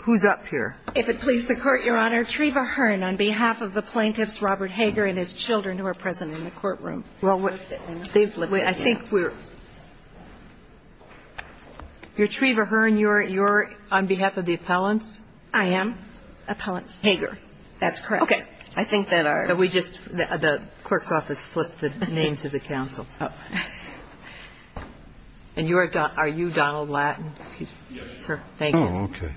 Who's up here? If it pleases the Court, Your Honor, Treva Hearn on behalf of the plaintiffs Robert Hager and his children who are present in the courtroom. Well, I think we're – Treva Hearn, you're on behalf of the appellants? I am. Appellants. Hager. That's correct. Okay. I think that our – We just – the clerk's office flipped the names of the counsel. Oh. And you are – are you Donald Lattin? Yes. Sir, thank you. Oh, okay.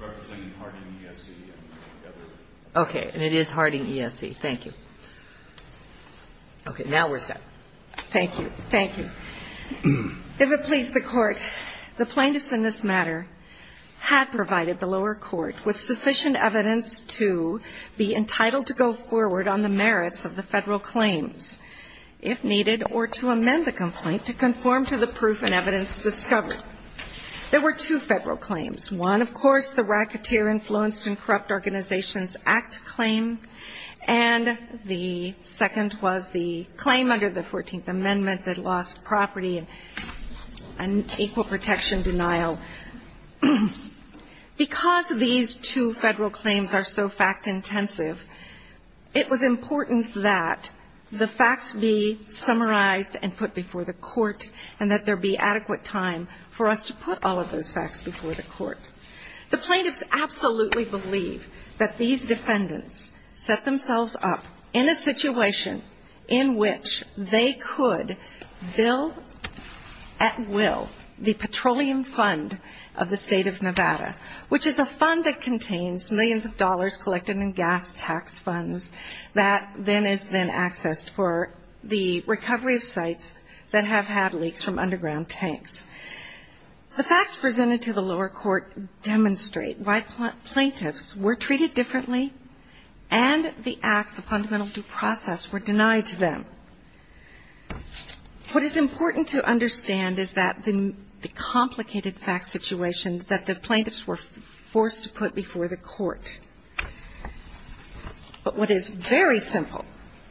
Clerk is claiming Harding, Ese. Okay. And it is Harding, Ese. Thank you. Okay. Now we're set. Thank you. Thank you. If it pleases the Court, the plaintiffs in this matter had provided the lower court with sufficient evidence to be entitled to go forward on the merits of the federal claims. If needed, or to amend the complaint to conform to the proof and evidence discovered. There were two federal claims. One, of course, the Racketeer Influenced and Corrupt Organizations Act claim. And the second was the claim under the 14th Amendment that lost property and equal protection denial. Because these two federal claims are so fact-intensive, it was important that the facts be summarized and put before the Court, and that there be adequate time for us to put all of those facts before the Court. The plaintiffs absolutely believe that these defendants set themselves up in a situation in which they could bill at will the Petroleum Fund of the State of Nevada, which is a fund that contains millions of dollars collected in gas tax funds that then is then accessed for the recovery of sites that have had leaks from underground tanks. The facts presented to the lower court demonstrate why plaintiffs were treated differently and the acts, the fundamental due process, were denied to them. What is important to understand is that the complicated fact situation that the plaintiffs were forced to put before the Court. But what is very simple,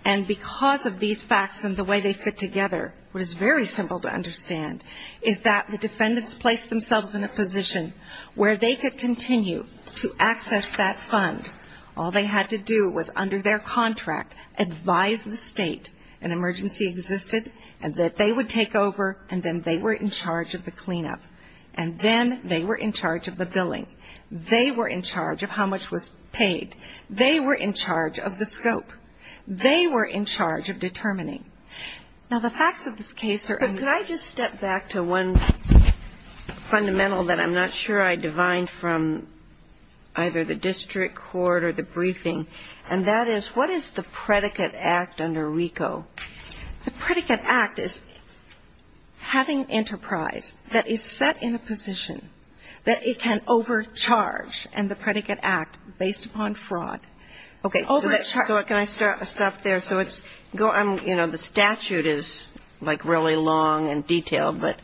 and because of these facts and the way they fit together, what is very simple to understand is that the defendants placed themselves in a position where they could continue to access that fund. All they had to do was, under their contract, advise the State an emergency existed and that they would take over, and then they were in charge of the cleanup, and then they were in charge of the billing. They were in charge of how much was paid. They were in charge of the scope. They were in charge of determining. Now, the facts of this case are unclear. But could I just step back to one fundamental that I'm not sure I divined from either the district court or the briefing, and that is what is the predicate act under RICO? The predicate act is having enterprise that is set in a position that it can overcharge, and the predicate act, based upon fraud, overcharges. Okay. So can I stop there? So it's, you know, the statute is, like, really long and detailed, but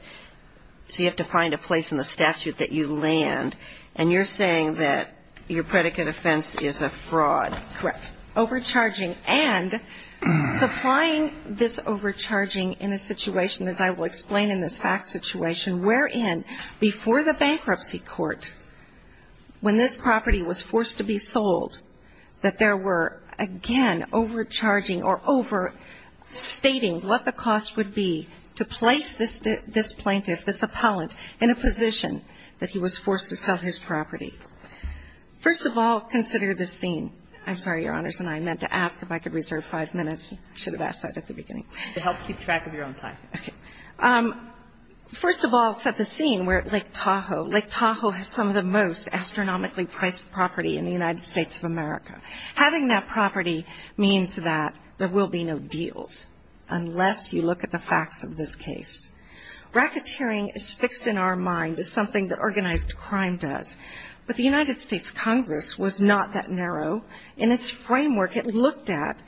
so you have to find a place in the statute that you land, and you're saying that your predicate offense is a fraud. Correct. Now, the fact of the matter is that RICO has a predicate act overcharging, and supplying this overcharging in a situation, as I will explain in this fact situation, wherein before the bankruptcy court, when this property was forced to be sold, that there were, again, overcharging or overstating what the cost would be to place this plaintiff, this appellant, in a position that he was forced to sell his property. First of all, consider the scene. I'm sorry, Your Honors, and I meant to ask if I could reserve five minutes. I should have asked that at the beginning. To help keep track of your own time. Okay. First of all, set the scene where Lake Tahoe, Lake Tahoe has some of the most astronomically priced property in the United States of America. Having that property means that there will be no deals unless you look at the facts of this case. Racketeering is fixed in our mind as something that organized crime does. But the United States Congress was not that narrow. In its framework, it looked at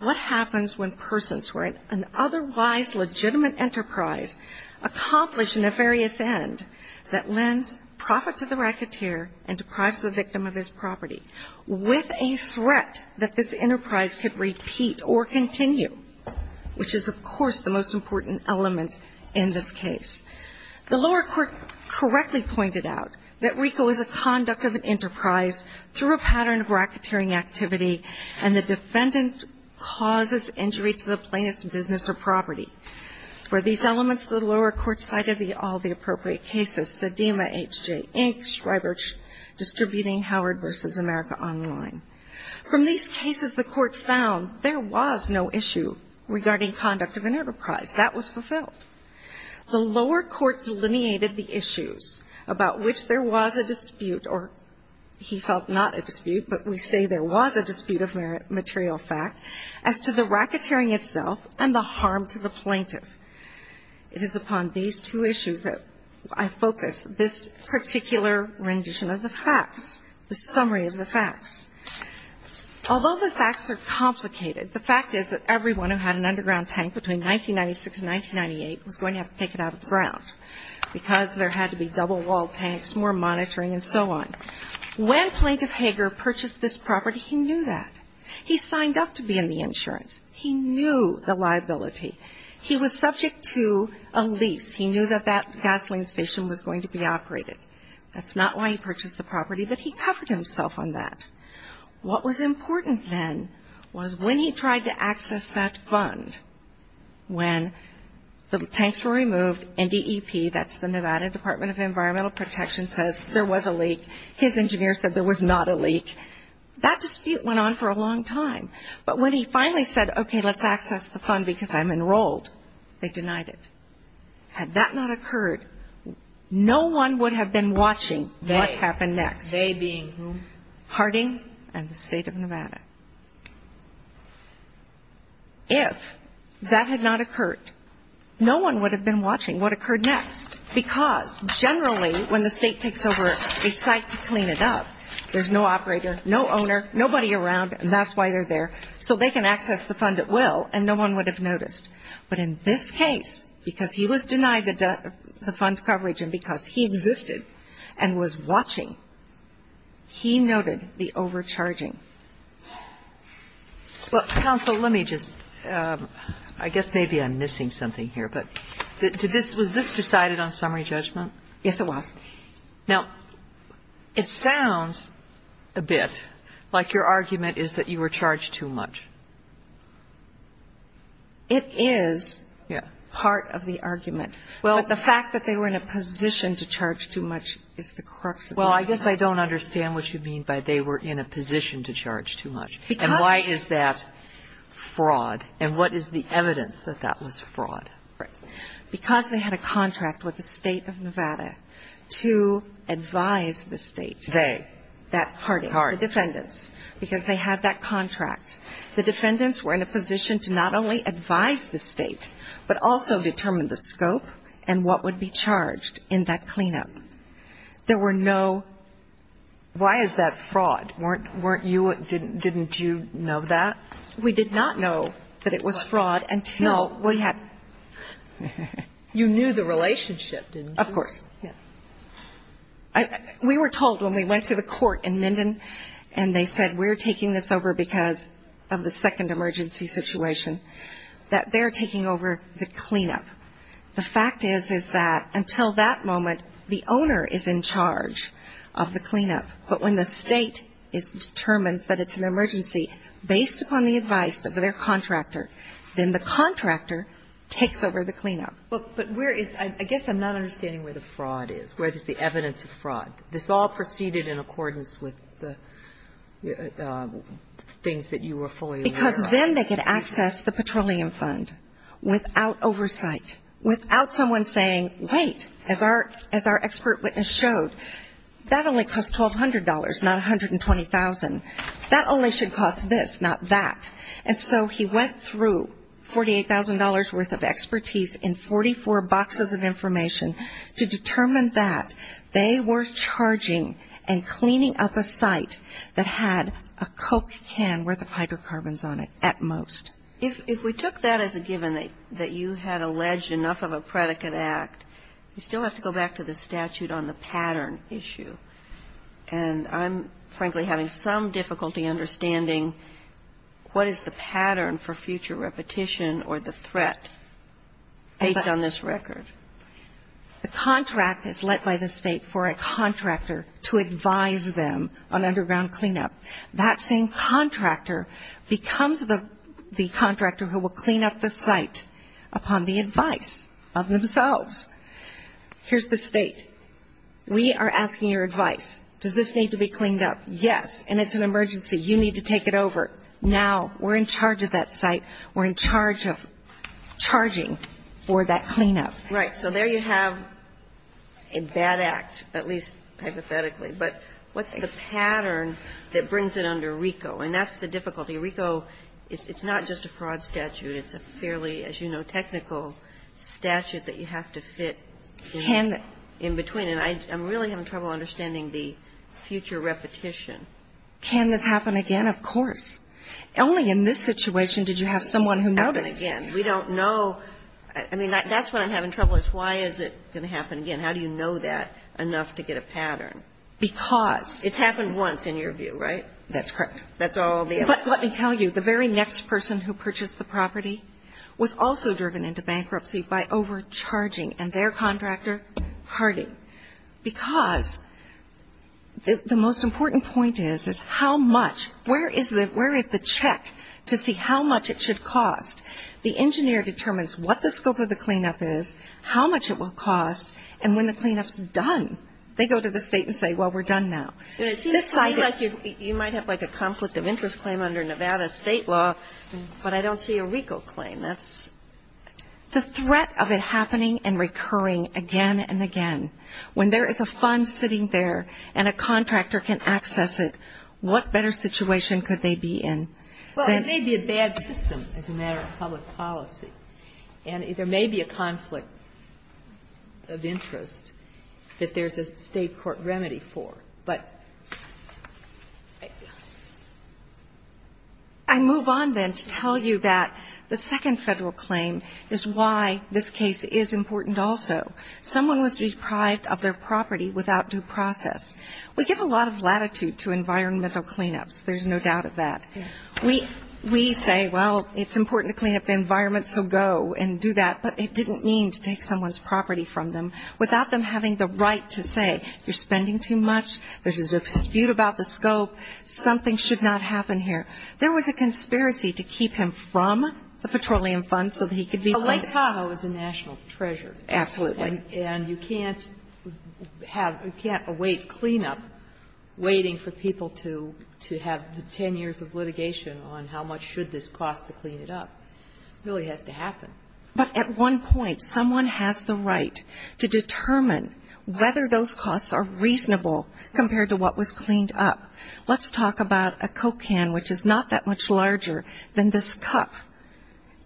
what happens when persons who are in an otherwise legitimate enterprise accomplish an nefarious end that lends profit to the racketeer and deprives the victim of his property, with a threat that this enterprise could repeat or continue, which is, of course, the most important element in this case. The lower court correctly pointed out that RICO is a conduct of an enterprise through a pattern of racketeering activity and the defendant causes injury to the plaintiff's business or property. For these elements, the lower court cited all the appropriate cases, Sedema, H.J. Inc., Schreiber Distributing, Howard v. America Online. From these cases, the Court found there was no issue regarding conduct of an enterprise. That was fulfilled. The lower court delineated the issues about which there was a dispute, or he felt not a dispute, but we say there was a dispute of material fact, as to the racketeering itself and the harm to the plaintiff. It is upon these two issues that I focus this particular rendition of the facts, the summary of the facts. Although the facts are complicated, the fact is that everyone who had an underground tank between 1996 and 1998 was going to have to take it out of the ground because there had to be double-walled tanks, more monitoring, and so on. When Plaintiff Hager purchased this property, he knew that. He signed up to be in the insurance. He knew the liability. He was subject to a lease. He knew that that gasoline station was going to be operated. That's not why he purchased the property, but he covered himself on that. What was important then was when he tried to access that fund, when the tanks were removed, NDEP, that's the Nevada Department of Environmental Protection, says there was a leak. His engineer said there was not a leak. That dispute went on for a long time. But when he finally said, okay, let's access the fund because I'm enrolled, they denied it. Had that not occurred, no one would have been watching what happened next. They being who? Harding and the state of Nevada. If that had not occurred, no one would have been watching what occurred next because generally when the state takes over a site to clean it up, there's no operator, no owner, nobody around, and that's why they're there so they can access the fund at will and no one would have noticed. But in this case, because he was denied the fund coverage and because he existed and was watching, he noted the overcharging. Well, counsel, let me just, I guess maybe I'm missing something here. But was this decided on summary judgment? Yes, it was. Now, it sounds a bit like your argument is that you were charged too much. It is part of the argument. But the fact that they were in a position to charge too much is the crux of it. Well, I guess I don't understand what you mean by they were in a position to charge too much. And why is that fraud? And what is the evidence that that was fraud? Because they had a contract with the state of Nevada to advise the state. They. Harding. The defendants. Because they had that contract. The defendants were in a position to not only advise the state, but also determine the scope and what would be charged in that cleanup. There were no. Why is that fraud? Weren't you, didn't you know that? We did not know that it was fraud until we had. You knew the relationship, didn't you? Of course. We were told when we went to the court in Minden and they said we're taking this over because of the second emergency situation, that they're taking over the cleanup. The fact is, is that until that moment, the owner is in charge of the cleanup. But when the state determines that it's an emergency based upon the advice of their I guess I'm not understanding where the fraud is, where there's the evidence of fraud. This all proceeded in accordance with the things that you were fully aware of. Because then they could access the petroleum fund without oversight, without someone saying, wait, as our expert witness showed, that only costs $1,200, not $120,000. That only should cost this, not that. And so he went through $48,000 worth of expertise in 44 boxes of information to determine that they were charging and cleaning up a site that had a Coke can worth of hydrocarbons on it at most. If we took that as a given that you had alleged enough of a predicate act, you still have to go back to the statute on the pattern issue. And I'm, frankly, having some difficulty understanding what is the pattern for future repetition or the threat based on this record. The contract is let by the state for a contractor to advise them on underground cleanup. That same contractor becomes the contractor who will clean up the site upon the advice of themselves. Here's the State. We are asking your advice. Does this need to be cleaned up? Yes. And it's an emergency. You need to take it over. Now we're in charge of that site. We're in charge of charging for that cleanup. Right. So there you have a bad act, at least hypothetically. But what's the pattern that brings it under RICO? And that's the difficulty. RICO, it's not just a fraud statute. It's a fairly, as you know, technical statute that you have to fit in between. And I'm really having trouble understanding the future repetition. Can this happen again? Of course. Only in this situation did you have someone who noticed. Again, we don't know. I mean, that's what I'm having trouble with. Why is it going to happen again? How do you know that enough to get a pattern? Because. It's happened once in your view, right? That's correct. That's all the evidence. But let me tell you, the very next person who purchased the property was also driven into bankruptcy by overcharging. And their contractor, Harding. Because the most important point is, is how much, where is the check to see how much it should cost? The engineer determines what the scope of the cleanup is, how much it will cost. And when the cleanup's done, they go to the State and say, well, we're done now. It seems to me like you might have like a conflict of interest claim under Nevada State law, but I don't see a RICO claim. That's. The threat of it happening and recurring again and again, when there is a fund sitting there and a contractor can access it, what better situation could they be in? Well, it may be a bad system as a matter of public policy. And there may be a conflict of interest that there's a State court remedy for. But I move on then to tell you that the second Federal claim is why this case is important also. Someone was deprived of their property without due process. We give a lot of latitude to environmental cleanups. There's no doubt of that. We say, well, it's important to clean up the environment, so go and do that. But it didn't mean to take someone's property from them without them having the right to say, you're spending too much. There's a dispute about the scope. Something should not happen here. There was a conspiracy to keep him from the petroleum fund so that he could be. But Lake Tahoe is a national treasure. Absolutely. And you can't have or can't await cleanup waiting for people to have the 10 years of litigation on how much should this cost to clean it up. It really has to happen. But at one point, someone has the right to determine whether those costs are reasonable compared to what was cleaned up. Let's talk about a Coke can, which is not that much larger than this cup.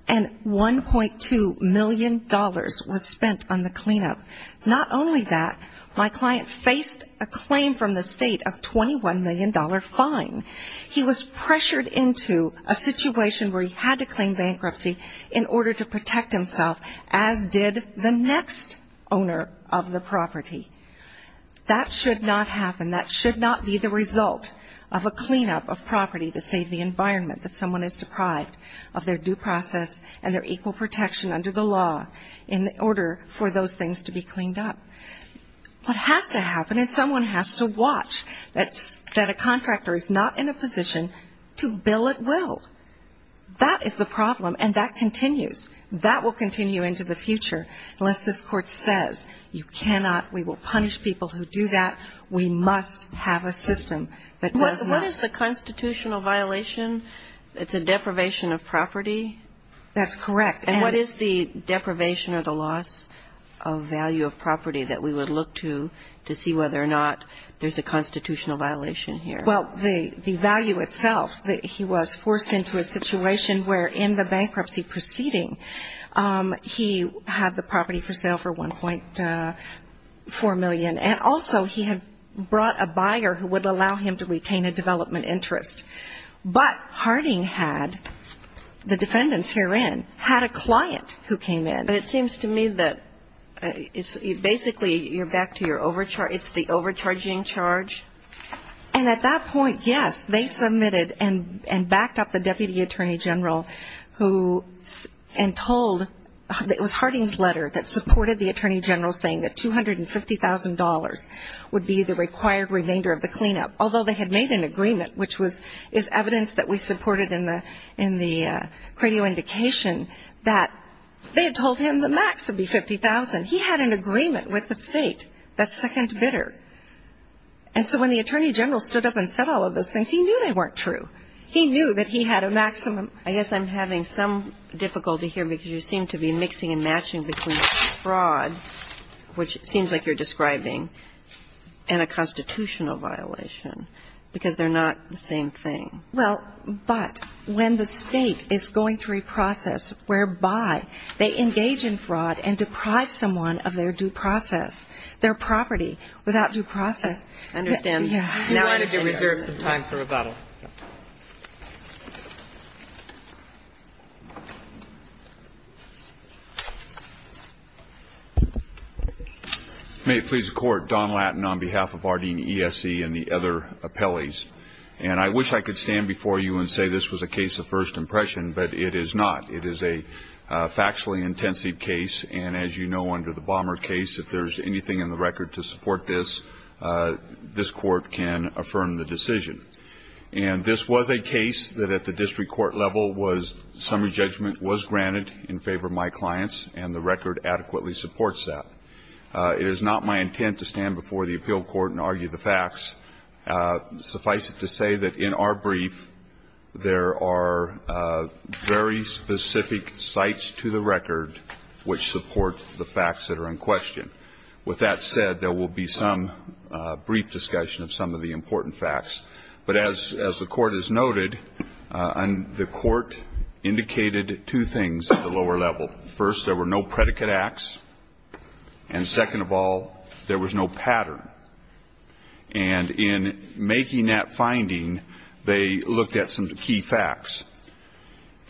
And $1.2 million was spent on the cleanup. Not only that, my client faced a claim from the State of $21 million fine. He was pressured into a situation where he had to claim bankruptcy in order to protect himself, as did the next owner of the property. That should not happen. That should not be the result of a cleanup of property to save the environment that someone is deprived of their due process and their equal protection under the law in order for those things to be cleaned up. What has to happen is someone has to watch that a contractor is not in a position to bill at will. That is the problem, and that continues. That will continue into the future. Unless this Court says you cannot, we will punish people who do that, we must have a system that does not. What is the constitutional violation? It's a deprivation of property? That's correct. And what is the deprivation or the loss of value of property that we would look to, to see whether or not there's a constitutional violation here? Well, the value itself, he was forced into a situation where in the bankruptcy proceeding, he had the property for sale for $1.4 million, and also he had brought a buyer who would allow him to retain a development interest. But Harding had, the defendants herein, had a client who came in. But it seems to me that it's basically you're back to your overcharge. It's the overcharging charge. And at that point, yes, they submitted and backed up the Deputy Attorney General who, and told, it was Harding's letter that supported the Attorney General saying that $250,000 would be the required remainder of the cleanup, although they had made an agreement, which was, is evidence that we supported in the credo indication that they had told him the max would be $50,000. He had an agreement with the State, that second bidder. And so when the Attorney General stood up and said all of those things, he knew they weren't true. He knew that he had a maximum. I guess I'm having some difficulty here because you seem to be mixing and matching between fraud, which seems like you're describing, and a constitutional violation, because they're not the same thing. Well, but when the State is going through a process whereby they engage in fraud and deprive someone of their due process, their property without due process. I understand. May it please the Court. Don Lattin on behalf of Harding ESE and the other appellees. And I wish I could stand before you and say this was a case of first impression, but it is not. It is a factually intensive case. And as you know, under the Bomber case, if there's anything in the record to support this, this Court can affirm the decision. And this was a case that at the district court level was summary judgment was granted in favor of my clients, and the record adequately supports that. It is not my intent to stand before the appeal court and argue the facts. Suffice it to say that in our brief, there are very specific sites to the record which support the facts that are in question. With that said, there will be some brief discussion of some of the important facts. But as the Court has noted, the Court indicated two things at the lower level. First, there were no predicate acts. And second of all, there was no pattern. And in making that finding, they looked at some key facts.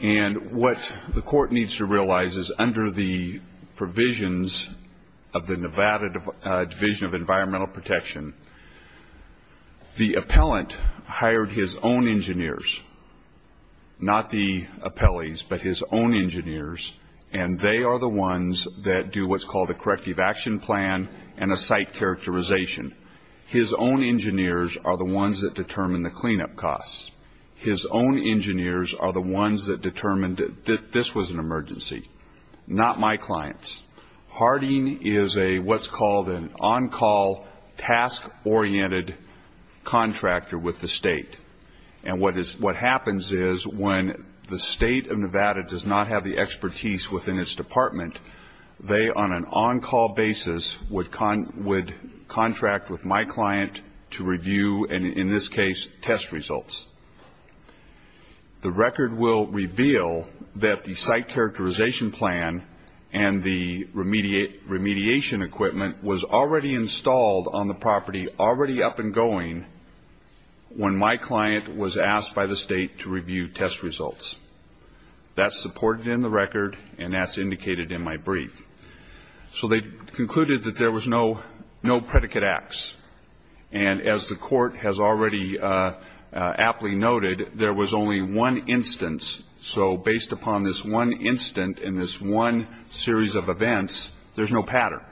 And what the Court needs to realize is under the provisions of the Nevada Division of Environmental Protection, the appellant hired his own engineers, not the appellees, but his own engineers, and they are the ones that do what's called a corrective action plan and a site characterization. His own engineers are the ones that determine the cleanup costs. His own engineers are the ones that determined that this was an emergency, not my clients. Harding is what's called an on-call, task-oriented contractor with the State. And what happens is when the State of Nevada does not have the expertise within its department, they, on an on-call basis, would contract with my client to review, and in this case, test results. The record will reveal that the site characterization plan and the remediation equipment was already installed on the property already up and going when my client was asked by the State to review test results. That's supported in the record, and that's indicated in my brief. So they concluded that there was no predicate acts. And as the Court has already aptly noted, there was only one instance. So based upon this one instance and this one series of events, there's no pattern.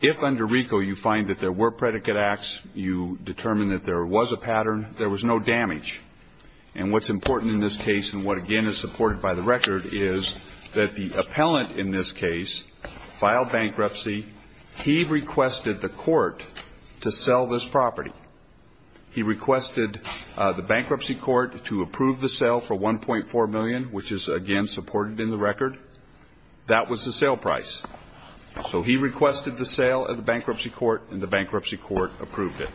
If under RICO you find that there were predicate acts, you determine that there was a pattern, there was no damage. And what's important in this case and what, again, is supported by the record is that the appellant in this case filed bankruptcy. He requested the court to sell this property. He requested the bankruptcy court to approve the sale for $1.4 million, which is, again, supported in the record. That was the sale price. So he requested the sale of the bankruptcy court, and the bankruptcy court approved it.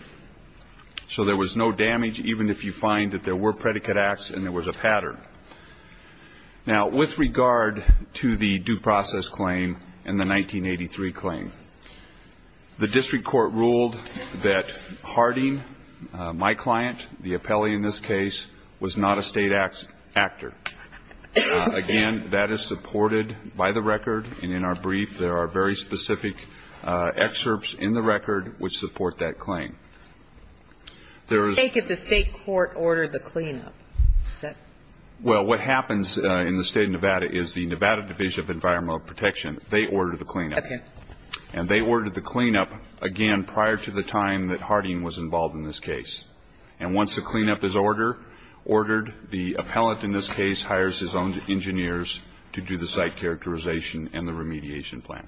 So there was no damage, even if you find that there were predicate acts and there was a pattern. Now, with regard to the due process claim and the 1983 claim, the district court ruled that Harding, my client, the appellee in this case, was not a state actor. Again, that is supported by the record. And in our brief, there are very specific excerpts in the record which support that claim. There was no damage. Take if the state court ordered the cleanup. Well, what happens in the State of Nevada is the Nevada Division of Environmental Protection, they ordered the cleanup. Okay. And they ordered the cleanup, again, prior to the time that Harding was involved in this case. And once the cleanup is ordered, the appellate in this case hires his own engineers to do the site characterization and the remediation plan.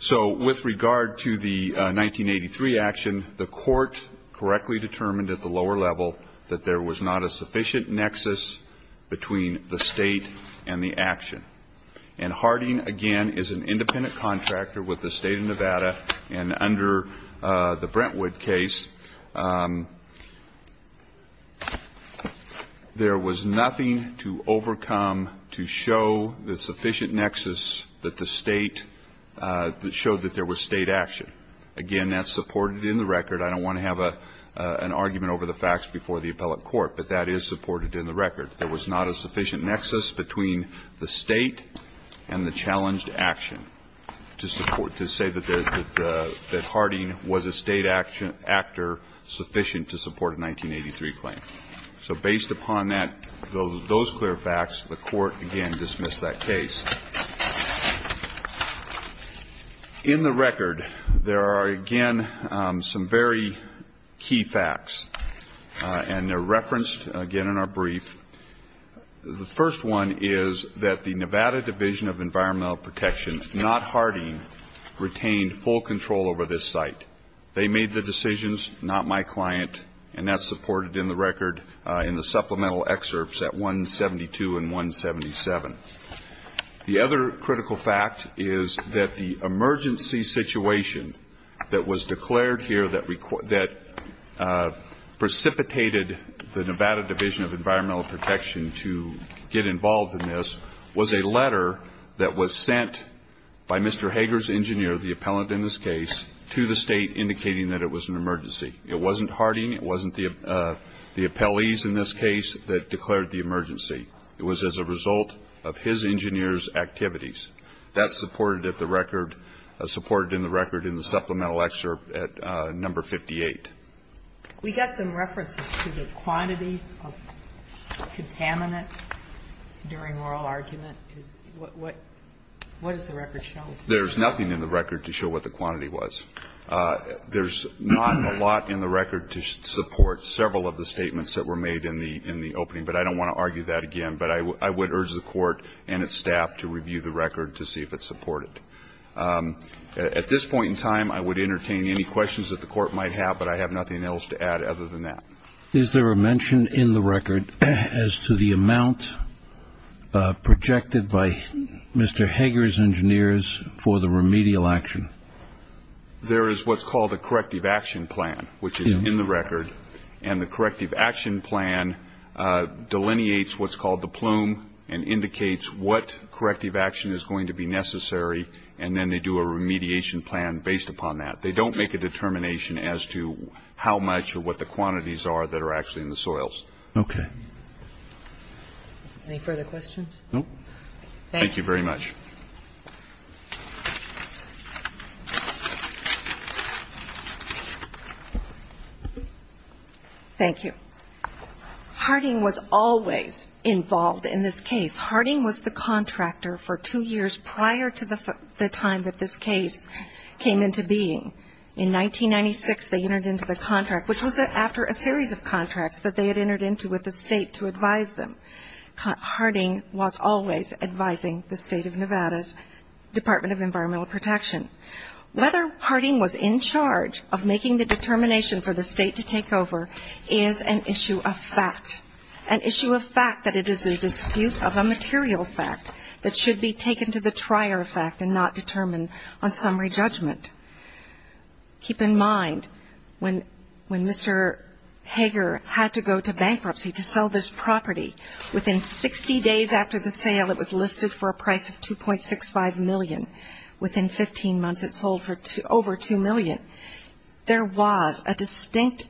So with regard to the 1983 action, the court correctly determined at the lower level that there was not a sufficient nexus between the state and the action. And Harding, again, is an independent contractor with the State of Nevada, and under the Brentwood case, there was nothing to overcome to show the sufficient nexus that the state, that showed that there was state action. Again, that's supported in the record. I don't want to have an argument over the facts before the appellate court, but that is supported in the record. There was not a sufficient nexus between the state and the challenged action to support, to say that Harding was a state actor sufficient to support a 1983 claim. So based upon that, those clear facts, the court, again, dismissed that case. In the record, there are, again, some very key facts, and they're referenced, again, in our brief. The first one is that the Nevada Division of Environmental Protection, not Harding, retained full control over this site. They made the decisions, not my client, and that's supported in the record in the supplemental excerpts at 172 and 177. The other critical fact is that the emergency situation that was declared here, that precipitated the Nevada Division of Environmental Protection to get involved in this, was a letter that was sent by Mr. Hager's engineer, the appellant in this case, to the state indicating that it was an emergency. It wasn't Harding. It wasn't the appellees in this case that declared the emergency. It was as a result of his engineer's activities. That's supported at the record, supported in the record in the supplemental excerpt at number 58. We got some references to the quantity of contaminant during oral argument. What does the record show? There's nothing in the record to show what the quantity was. There's not a lot in the record to support several of the statements that were made in the opening, but I don't want to argue that again, but I would urge the Court and its staff to review the record to see if it's supported. At this point in time, I would entertain any questions that the Court might have, but I have nothing else to add other than that. Is there a mention in the record as to the amount projected by Mr. Hager's engineers for the remedial action? There is what's called a corrective action plan, which is in the record, and the corrective action plan delineates what's called the plume and indicates what corrective action is going to be necessary, and then they do a remediation plan based upon that. They don't make a determination as to how much or what the quantities are that are actually in the soils. Okay. Any further questions? Thank you very much. Thank you. Harding was always involved in this case. Harding was the contractor for two years prior to the time that this case came into being. In 1996, they entered into the contract, which was after a series of contracts that they had entered into with the State to advise them. Harding was always advising the State of Nevada's Department of Environmental Protection. Whether Harding was in charge of making the determination for the State to take over is an issue of fact, an issue of fact that it is a dispute of a material fact that should be taken to the trier of fact and not determined on summary judgment. Keep in mind, when Mr. Hager had to go to bankruptcy to sell this property, within 60 days after the sale it was listed for a price of $2.65 million, within 15 months it sold for over $2 million. There was a distinct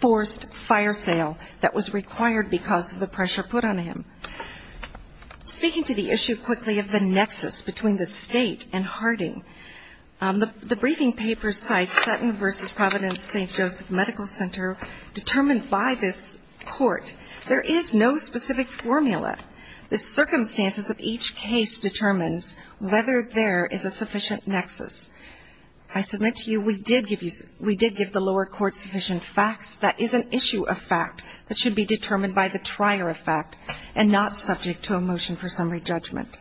forced fire sale that was required because of the pressure put on him. Speaking to the issue quickly of the nexus between the State and Harding, the briefing paper cites Sutton v. Providence St. Joseph Medical Center determined by this court. There is no specific formula. The circumstances of each case determines whether there is a sufficient nexus. I submit to you we did give the lower court sufficient facts. That is an issue of fact that should be determined by the trier of fact and not subject to a motion for summary judgment.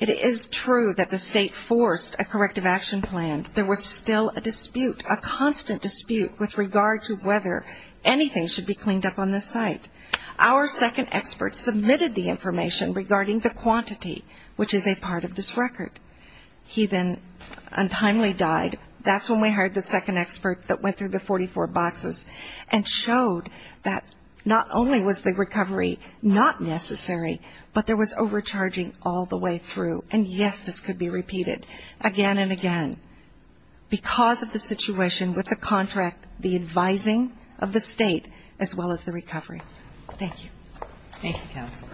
It is true that the State forced a corrective action plan. There was still a dispute, a constant dispute with regard to whether anything should be cleaned up on this site. Our second expert submitted the information regarding the quantity, which is a part of this record. He then untimely died. That's when we heard the second expert that went through the 44 boxes and showed that not only was the recovery not necessary, but there was overcharging all the way through. And, yes, this could be repeated again and again because of the situation with the contract, the advising of the State, as well as the recovery. Thank you. Thank you, Counselor.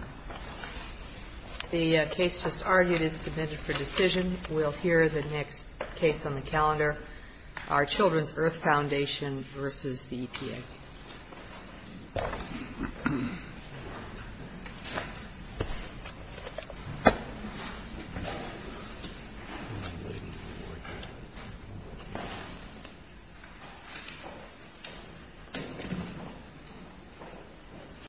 The case just argued is submitted for decision. We'll hear the next case on the calendar, our Children's Earth Foundation v. the EPA.